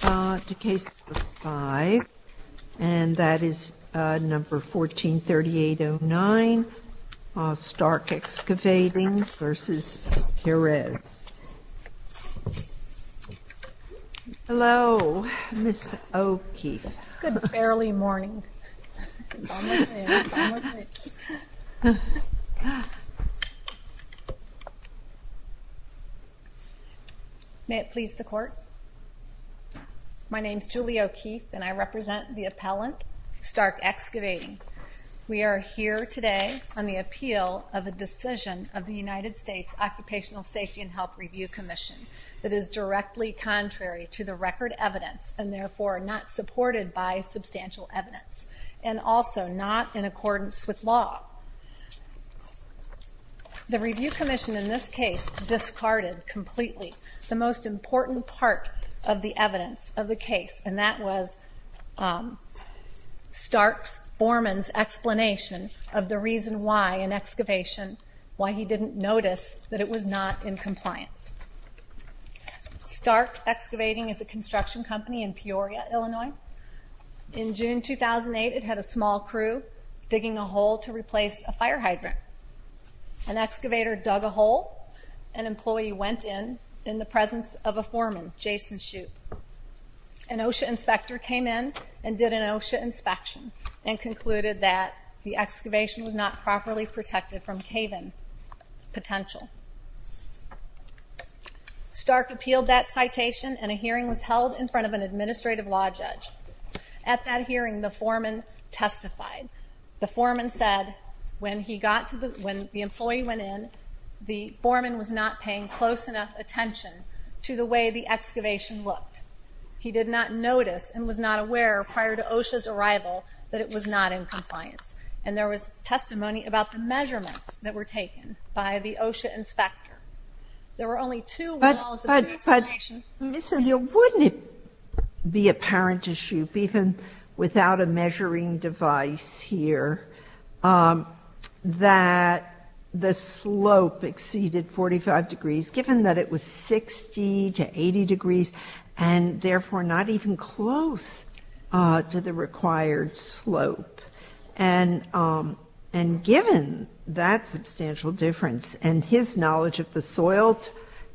to case number 5, and that is number 14-3809 Stark Excavating v. Perez. Hello, Ms. Oki. Good early morning. My name is Julia O'Keefe, and I represent the appellant, Stark Excavating. We are here today on the appeal of a decision of the United States Occupational Safety and Health Review Commission that is directly contrary to the record evidence, and therefore not supported by substantial evidence, and also not in accordance with law. The review commission in this case discarded completely the most important part of the evidence of the case, and that was Stark Borman's explanation of the reason why, in excavation, why he didn't notice that it was not in compliance. Stark Excavating is a construction company in Peoria, Illinois. In June 2008, it had a small crew digging a hole to replace a fire hydrant. An excavator dug a hole. An employee went in, in the presence of a foreman, Jason Shoup. An OSHA inspector came in and did an OSHA inspection, and concluded that the excavation was not properly protected from cave-in potential. Stark appealed that citation, and a hearing was held in front of an administrative law judge. At that hearing, the foreman testified. The foreman said, when the employee went in, the foreman was not paying close enough attention to the way the excavation looked. He did not notice, and was not aware, prior to OSHA's arrival, that it was not in compliance. And there was testimony about the measurements that were taken by the OSHA inspector. There were only two walls of excavation. Ms. O'Neill, wouldn't it be apparent to Shoup, even without a measuring device here, that the slope exceeded 45 degrees, given that it was 60 to 80 degrees, and therefore not even close to the required slope? And given that substantial difference, and his knowledge of the soil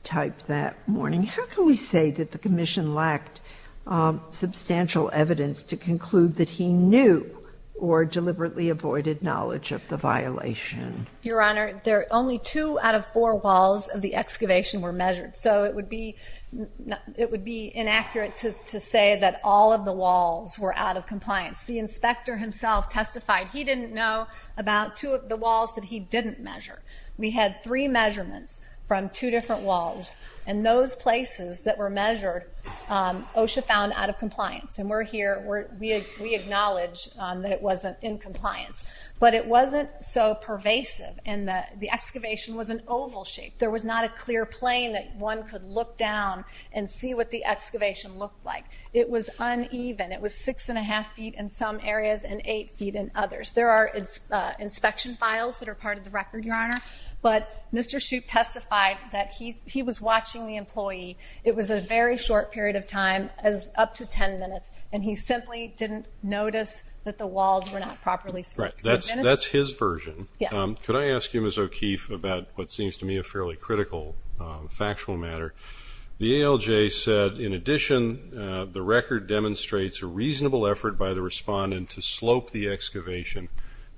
type that morning, how can we say that the Commission lacked substantial evidence to conclude that he knew, or deliberately avoided knowledge of the violation? Your Honor, only two out of four walls of the excavation were measured. So it would be inaccurate to say that all of the walls were out of compliance. The inspector himself testified he didn't know about two of the walls that he didn't measure. We had three measurements from two different walls, and those places that were measured OSHA found out of compliance. And we're here, we acknowledge that it wasn't in compliance. But it wasn't so pervasive, and the excavation was an oval shape. There was not a clear plane that one could look down and see what the excavation looked like. It was uneven. It was 6 1⁄2 feet in some areas and 8 feet in others. There are inspection files that are part of the record, Your Honor. But Mr. Shoup testified that he was watching the employee. It was a very short period of time, up to 10 minutes, and he simply didn't notice that the walls were not properly slipped. That's his version. Could I ask you, Ms. O'Keefe, about what seems to me a fairly critical factual matter? The ALJ said, in addition, the record demonstrates a reasonable effort by the respondent to slope the excavation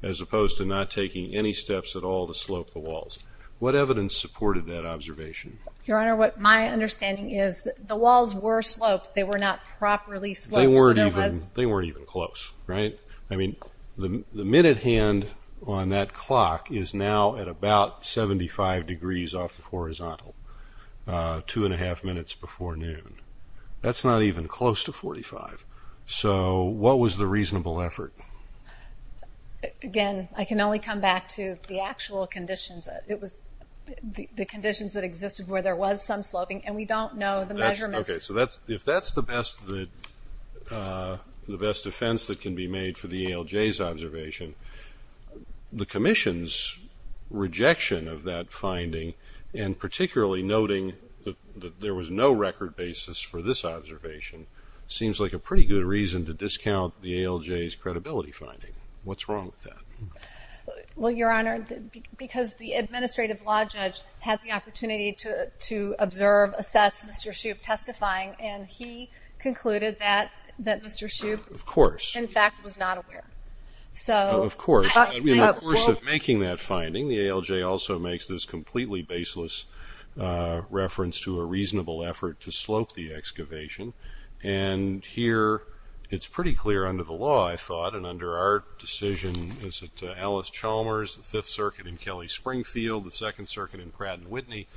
as opposed to not taking any steps at all to slope the walls. What evidence supported that observation? Your Honor, what my understanding is that the walls were sloped. They were not properly sloped. They weren't even close, right? I mean, the minute hand on that clock is now at about 75 degrees off the horizontal. Two and a half minutes before noon. That's not even close to 45. So what was the reasonable effort? Again, I can only come back to the actual conditions. It was the conditions that existed where there was some sloping, and we don't know the measurements. Okay, so if that's the best defense that can be made for the ALJ's observation, the Commission's rejection of that finding, and particularly noting that there was no record basis for this observation, seems like a pretty good reason to discount the ALJ's credibility finding. What's wrong with that? Well, Your Honor, because the administrative law judge had the opportunity to observe, assess Mr. Shoup testifying, and he concluded that Mr. Shoup, in fact, was not aware. Of course. In the course of making that finding, the ALJ also makes this completely baseless reference to a reasonable effort to slope the excavation. And here it's pretty clear under the law, I thought, and under our decision, is it Alice Chalmers, the Fifth Circuit in Kelly-Springfield, the Second Circuit in Pratt & Whitney,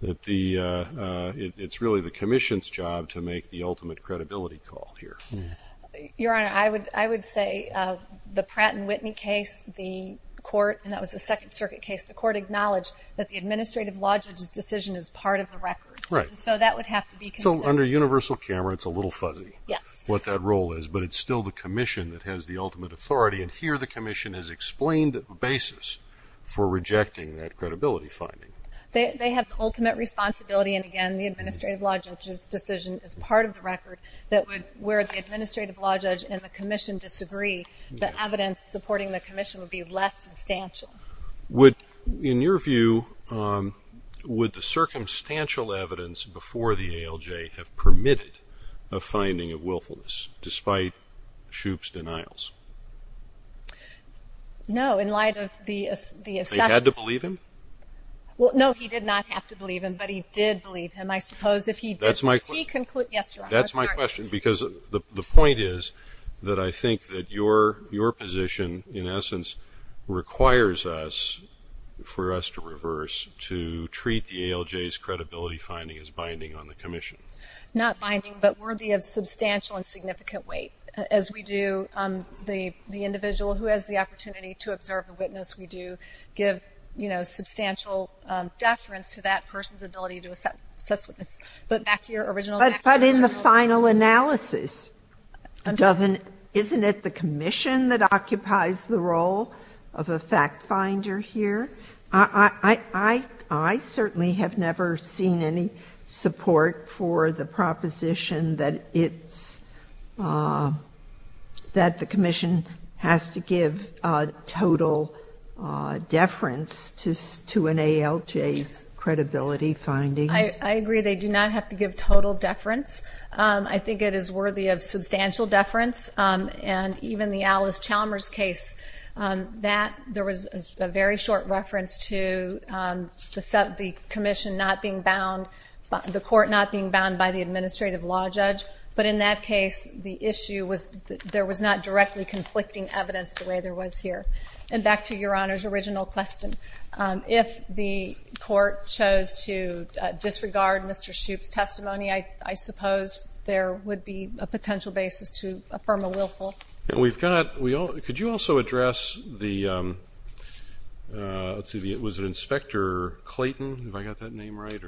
that it's really the Commission's job to make the ultimate credibility call here. Your Honor, I would say the Pratt & Whitney case, the court, and that was the Second Circuit case, the court acknowledged that the administrative law judge's decision is part of the record. Right. So that would have to be considered. So under universal camera, it's a little fuzzy. Yes. What that role is, but it's still the Commission that has the ultimate authority, and here the Commission has explained a basis for rejecting that credibility finding. They have the ultimate responsibility, and again, the administrative law judge's decision is part of the record. Where the administrative law judge and the Commission disagree, the evidence supporting the Commission would be less substantial. In your view, would the circumstantial evidence before the ALJ have permitted a finding of willfulness, despite Shoup's denials? No, in light of the assessment. They had to believe him? No, he did not have to believe him, but he did believe him. That's my question. Because the point is that I think that your position, in essence, requires us, for us to reverse, to treat the ALJ's credibility finding as binding on the Commission. Not binding, but worthy of substantial and significant weight. As we do, the individual who has the opportunity to observe the witness, we do give substantial deference to that person's ability to assess witness. But back to your original question. But in the final analysis, isn't it the Commission that occupies the role of a fact finder here? I certainly have never seen any support for the proposition that it's, that the Commission has to give total deference to an ALJ's credibility findings. I agree. They do not have to give total deference. I think it is worthy of substantial deference. And even the Alice Chalmers case, there was a very short reference to the Commission not being bound, the court not being bound by the administrative law judge. But in that case, the issue was that there was not directly conflicting evidence the way there was here. And back to your Honor's original question. If the court chose to disregard Mr. Shoup's testimony, I suppose there would be a potential basis to affirm a willful. We've got, could you also address the, let's see, was it Inspector Clayton? Have I got that name right?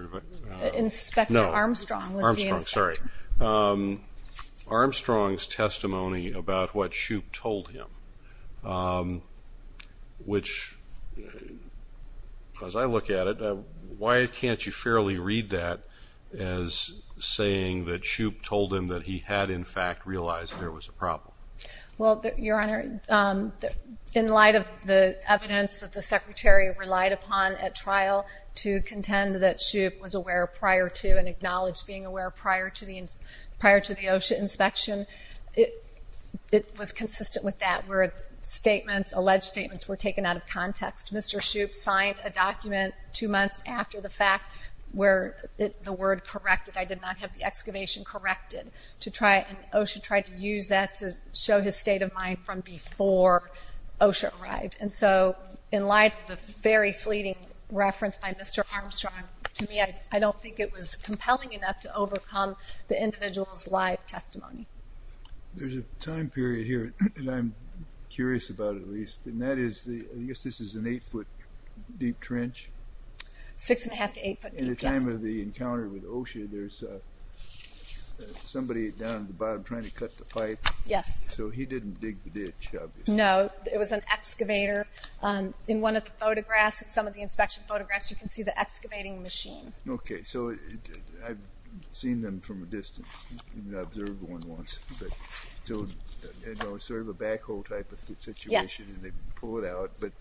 Inspector Armstrong. Armstrong, sorry. Armstrong's testimony about what Shoup told him, which as I look at it, why can't you fairly read that as saying that Shoup told him that he had in fact realized there was a problem? Well, your Honor, in light of the evidence that the Secretary relied upon at trial to contend that Shoup was aware prior to and acknowledged being aware prior to the OSHA inspection, it was consistent with that where statements, alleged statements, were taken out of context. Mr. Shoup signed a document two months after the fact where the word corrected. I did not have the excavation corrected to try, and OSHA tried to use that to show his state of mind from before OSHA arrived. And so in light of the very fleeting reference by Mr. Armstrong, to me I don't think it was compelling enough to overcome the individual's live testimony. There's a time period here that I'm curious about at least, and that is, I guess this is an eight-foot deep trench? Six-and-a-half to eight-foot deep, yes. At the time of the encounter with OSHA, there's somebody down at the bottom trying to cut the pipe. Yes. So he didn't dig the ditch, obviously. No, it was an excavator. In one of the photographs, in some of the inspection photographs, you can see the excavating machine. Okay, so I've seen them from a distance. I've observed one once. It was sort of a backhoe type of situation, and they pull it out. But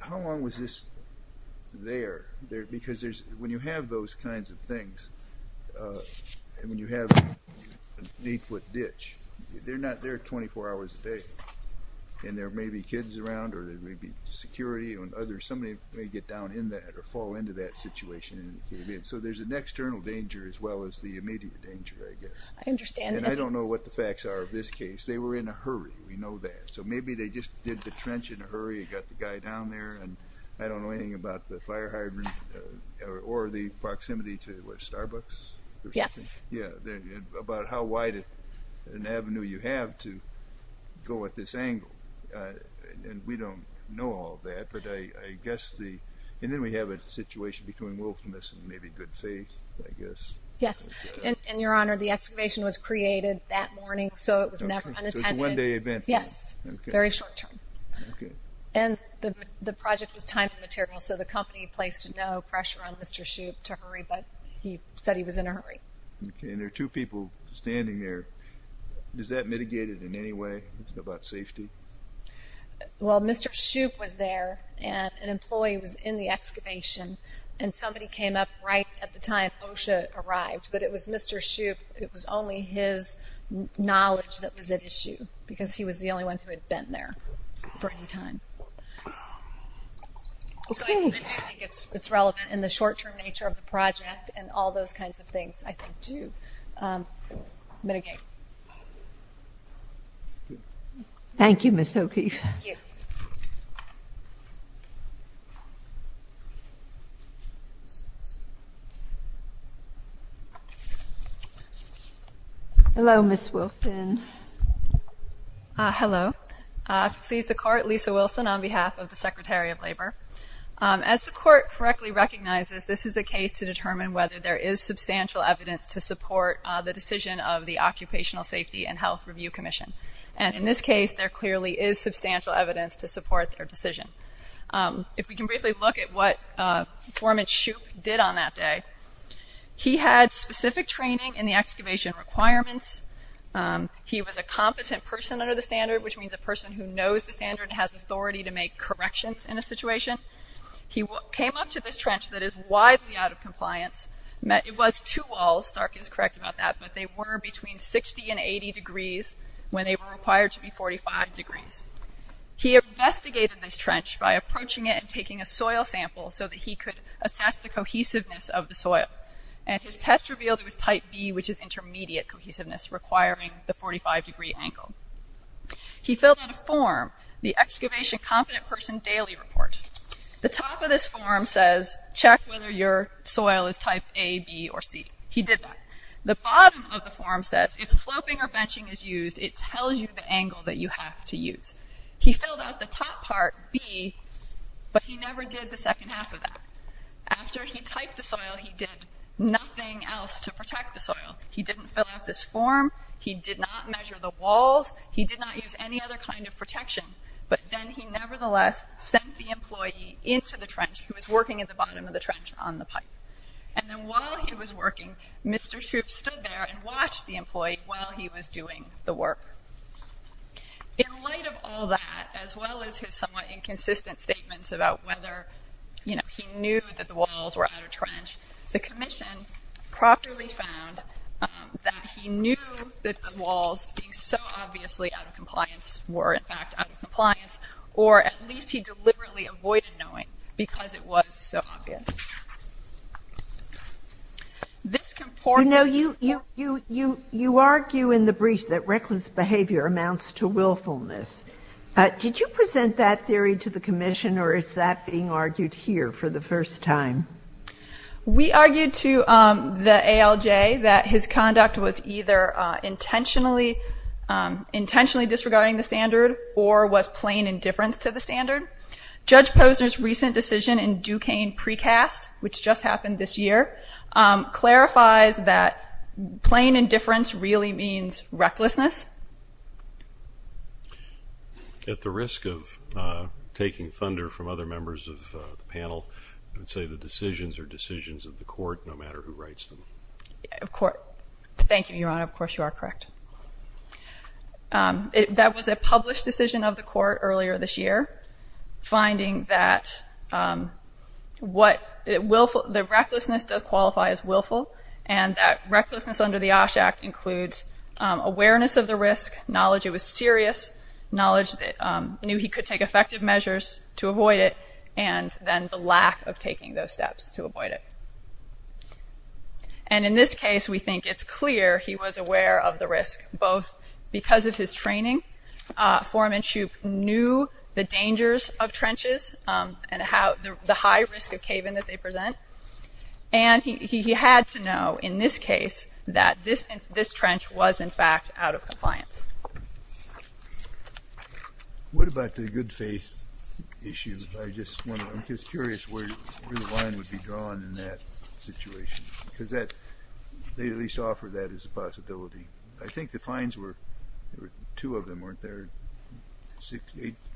how long was this there? Because when you have those kinds of things, and when you have an eight-foot ditch, they're not there 24 hours a day. And there may be kids around, or there may be security, or somebody may get down in that or fall into that situation. So there's an external danger as well as the immediate danger, I guess. I understand. And I don't know what the facts are of this case. They were in a hurry. We know that. So maybe they just did the trench in a hurry and got the guy down there. And I don't know anything about the fire hydrant or the proximity to, what, Starbucks or something? Yes. Yeah, about how wide an avenue you have to go at this angle. And we don't know all that. And then we have a situation between wilfulness and maybe good faith, I guess. Yes. And, Your Honor, the excavation was created that morning, so it was never unattended. So it's a one-day event. Yes. Very short term. Okay. And the project was time and material, so the company placed no pressure on Mr. Shoup to hurry, but he said he was in a hurry. Okay. And there are two people standing there. Does that mitigate it in any way about safety? Well, Mr. Shoup was there, and an employee was in the excavation, and somebody came up right at the time OSHA arrived. But it was Mr. Shoup. It was only his knowledge that was at issue, because he was the only one who had been there for any time. So I do think it's relevant in the short-term nature of the project and all those kinds of things, I think, to mitigate. Thank you. Thank you, Ms. O'Keefe. Thank you. Hello, Ms. Wilson. Hello. Please, the Court, Lisa Wilson on behalf of the Secretary of Labor. As the Court correctly recognizes, this is a case to determine whether there is substantial evidence to support the decision of the Occupational Safety and Health Review Commission. And in this case, there clearly is substantial evidence to support their decision. If we can briefly look at what Foreman Shoup did on that day, he had specific training in the excavation requirements. He was a competent person under the standard, which means a person who knows the standard and has authority to make corrections in a situation. He came up to this trench that is widely out of compliance. It was two walls. Stark is correct about that. But they were between 60 and 80 degrees when they were required to be 45 degrees. He investigated this trench by approaching it and taking a soil sample so that he could assess the cohesiveness of the soil. And his test revealed it was type B, which is intermediate cohesiveness, requiring the 45-degree angle. He filled out a form, the Excavation Competent Person Daily Report. The top of this form says, check whether your soil is type A, B, or C. He did that. The bottom of the form says, if sloping or benching is used, it tells you the angle that you have to use. He filled out the top part, B, but he never did the second half of that. After he typed the soil, he did nothing else to protect the soil. He didn't fill out this form. He did not measure the walls. He did not use any other kind of protection. But then he nevertheless sent the employee into the trench. He was working at the bottom of the trench on the pipe. And then while he was working, Mr. Shoup stood there and watched the employee while he was doing the work. In light of all that, as well as his somewhat inconsistent statements about whether he knew that the walls were out of trench, the commission properly found that he knew that the walls, being so obviously out of compliance, were, in fact, out of compliance, or at least he deliberately avoided knowing because it was so obvious. You know, you argue in the brief that reckless behavior amounts to willfulness. Did you present that theory to the commission, or is that being argued here for the first time? We argued to the ALJ that his conduct was either intentionally disregarding the standard or was plain indifference to the standard. Judge Posner's recent decision in Duquesne precast, which just happened this year, clarifies that plain indifference really means recklessness. At the risk of taking thunder from other members of the panel, I would say the decisions are decisions of the court, no matter who writes them. Thank you, Your Honor. Of course, you are correct. That was a published decision of the court earlier this year, finding that the recklessness does qualify as willful, and that recklessness under the OSH Act includes awareness of the risk, knowledge it was serious, knowledge that he knew he could take effective measures to avoid it, and then the lack of taking those steps to avoid it. And in this case, we think it's clear he was aware of the risk, both because of his training. Foreman Shoup knew the dangers of trenches and the high risk of cave-in that they present, and he had to know in this case that this trench was, in fact, out of compliance. What about the good faith issue? I'm just curious where the line would be drawn in that situation, because they at least offer that as a possibility. I think the fines were two of them, weren't there?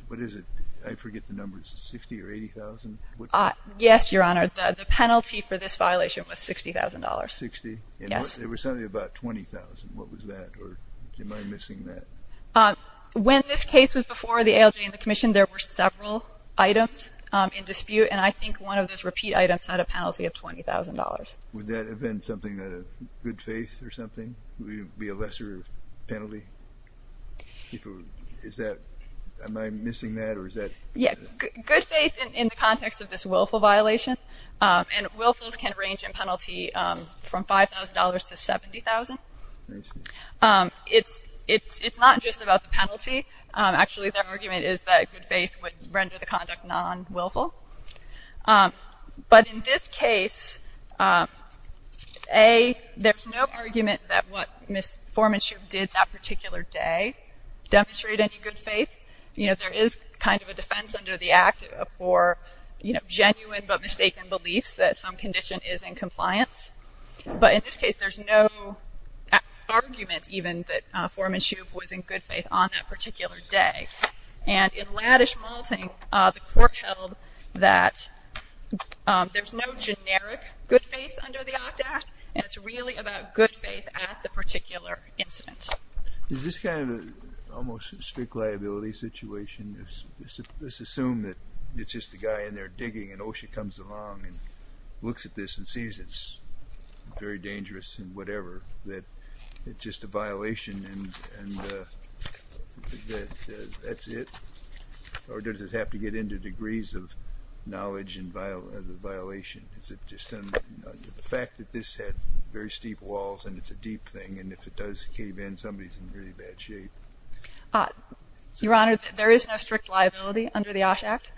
What is it? I forget the number. Is it $60,000 or $80,000? Yes, Your Honor. The penalty for this violation was $60,000. $60,000? Yes. It was something about $20,000. What was that? Or am I missing that? When this case was before the ALJ and the Commission, there were several items in dispute, and I think one of those repeat items had a penalty of $20,000. Would that have been something, a good faith or something? Would it be a lesser penalty? Is that – am I missing that, or is that – Yes. Good faith in the context of this willful violation, and willfuls can range in penalty from $5,000 to $70,000. It's not just about the penalty. Actually, their argument is that good faith would render the conduct non-willful. But in this case, A, there's no argument that what Ms. Formanshoe did that particular day demonstrated any good faith. You know, there is kind of a defense under the Act for, you know, genuine but mistaken beliefs that some condition is in compliance. But in this case, there's no argument even that Formanshoe was in good faith on that particular day. And in Laddish-Malting, the court held that there's no generic good faith under the OCT Act, and it's really about good faith at the particular incident. Is this kind of almost a strict liability situation? Let's assume that it's just a guy in there digging, and OSHA comes along and looks at this and sees it's very dangerous and whatever, that it's just a violation and that's it, or does it have to get into degrees of knowledge and violation? Is it just the fact that this had very steep walls and it's a deep thing, and if it does cave in, somebody's in really bad shape? Your Honor, there is no strict liability under the OSH Act.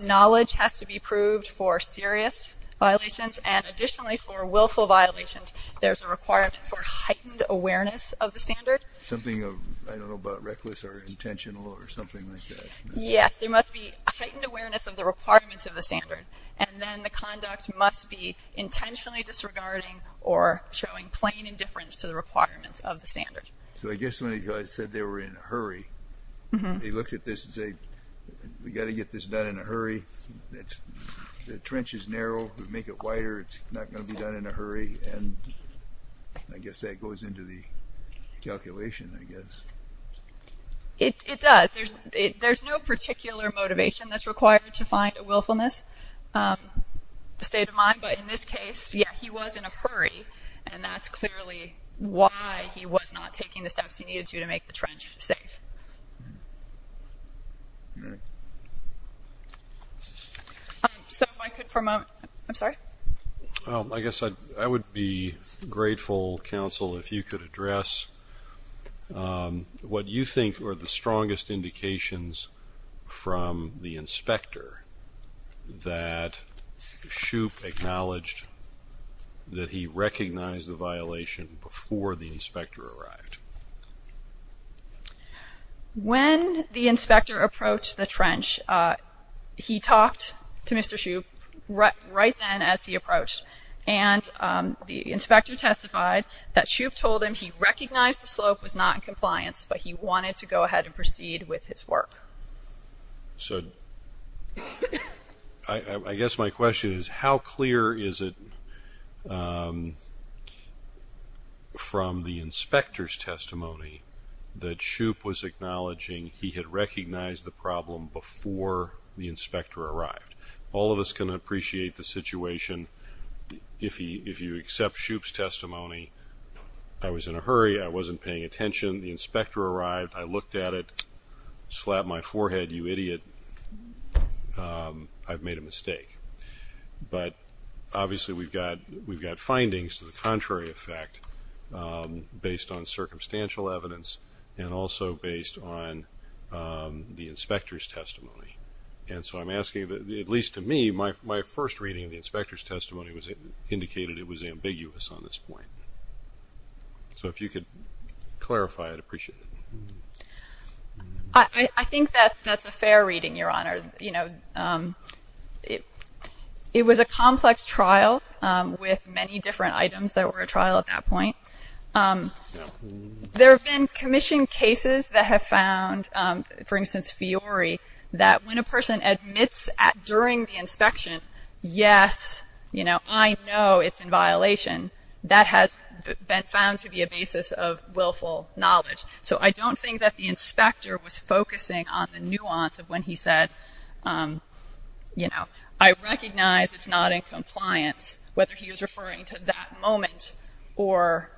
Knowledge has to be proved for serious violations, and additionally for willful violations, there's a requirement for heightened awareness of the standard. Something, I don't know, about reckless or intentional or something like that? Yes, there must be a heightened awareness of the requirements of the standard, and then the conduct must be intentionally disregarding or showing plain indifference to the requirements of the standard. So I guess when he said they were in a hurry, they looked at this and said, we've got to get this done in a hurry. The trench is narrow. If we make it wider, it's not going to be done in a hurry, and I guess that goes into the calculation, I guess. It does. There's no particular motivation that's required to find a willfulness state of mind, but in this case, yeah, he was in a hurry, and that's clearly why he was not taking the steps he needed to to make the trench safe. So if I could for a moment. I'm sorry? I guess I would be grateful, counsel, if you could address what you think are the strongest indications from the inspector that Shoup acknowledged that he recognized the violation before the inspector arrived. When the inspector approached the trench, he talked to Mr. Shoup right then as he approached, and the inspector testified that Shoup told him he recognized the slope was not in compliance, but he wanted to go ahead and proceed with his work. So I guess my question is how clear is it from the inspector's testimony that Shoup was acknowledging he had recognized the problem before the inspector arrived? All of us can appreciate the situation. If you accept Shoup's testimony, I was in a hurry, I wasn't paying attention, the inspector arrived, I looked at it, slapped my forehead, you idiot, I've made a mistake. But obviously we've got findings to the contrary effect based on circumstantial evidence and also based on the inspector's testimony. And so I'm asking, at least to me, my first reading of the inspector's testimony indicated it was ambiguous on this point. So if you could clarify, I'd appreciate it. I think that's a fair reading, Your Honor. You know, it was a complex trial with many different items that were at trial at that point. There have been commission cases that have found, for instance, Fiori, that when a person admits during the inspection, yes, you know, I know it's in violation, that has been found to be a basis of willful knowledge. So I don't think that the inspector was focusing on the nuance of when he said, you know, I recognize it's not in compliance, whether he was referring to that moment or,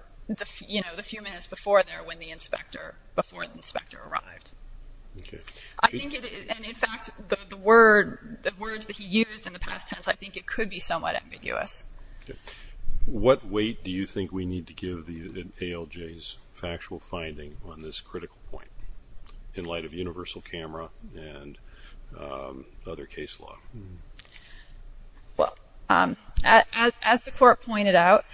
you know, the few minutes before there when the inspector, before the inspector arrived. And in fact, the words that he used in the past tense, I think it could be somewhat ambiguous. Okay. What weight do you think we need to give the ALJ's factual finding on this critical point, in light of universal camera and other case law? Well, as the Court pointed out,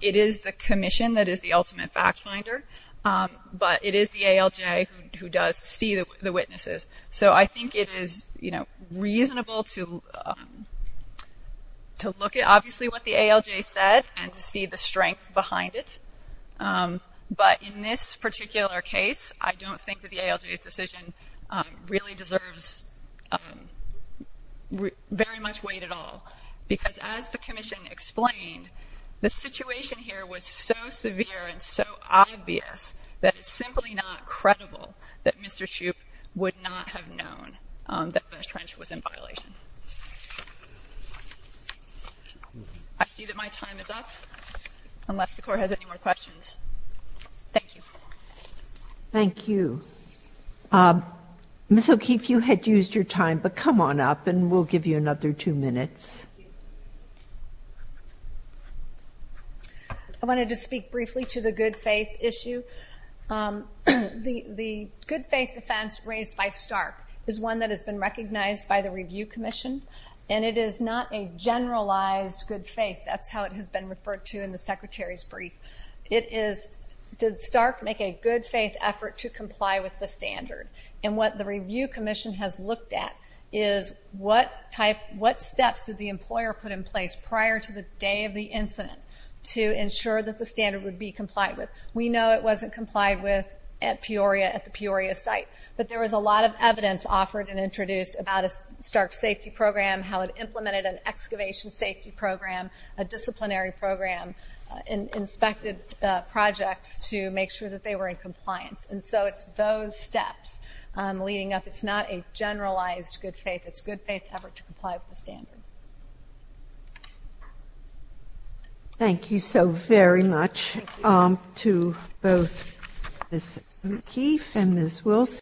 it is the commission that is the ultimate fact finder, but it is the ALJ who does see the witnesses. So I think it is, you know, reasonable to look at obviously what the ALJ said and to see the strength behind it. But in this particular case, I don't think that the ALJ's decision really deserves very much weight at all. Because as the commission explained, the situation here was so severe and so obvious that it's simply not credible that Mr. Shoup would not have known that the trench was in violation. I see that my time is up, unless the Court has any more questions. Thank you. Ms. O'Keefe, you had used your time, but come on up and we'll give you another two minutes. I wanted to speak briefly to the good faith issue. The good faith defense raised by Stark is one that has been recognized by the Review Commission, and it is not a generalized good faith. That's how it has been referred to in the Secretary's brief. It is, did Stark make a good faith effort to comply with the standard? And what the Review Commission has looked at is, what steps did the employer put in place prior to the day of the incident to ensure that the standard would be complied with? We know it wasn't complied with at Peoria, at the Peoria site. But there was a lot of evidence offered and introduced about a Stark safety program, how it implemented an excavation safety program, a disciplinary program, and inspected projects to make sure that they were in compliance. And so it's those steps leading up. It's not a generalized good faith. It's a good faith effort to comply with the standard. Thank you so very much to both Ms. O'Keefe and Ms. Wilson.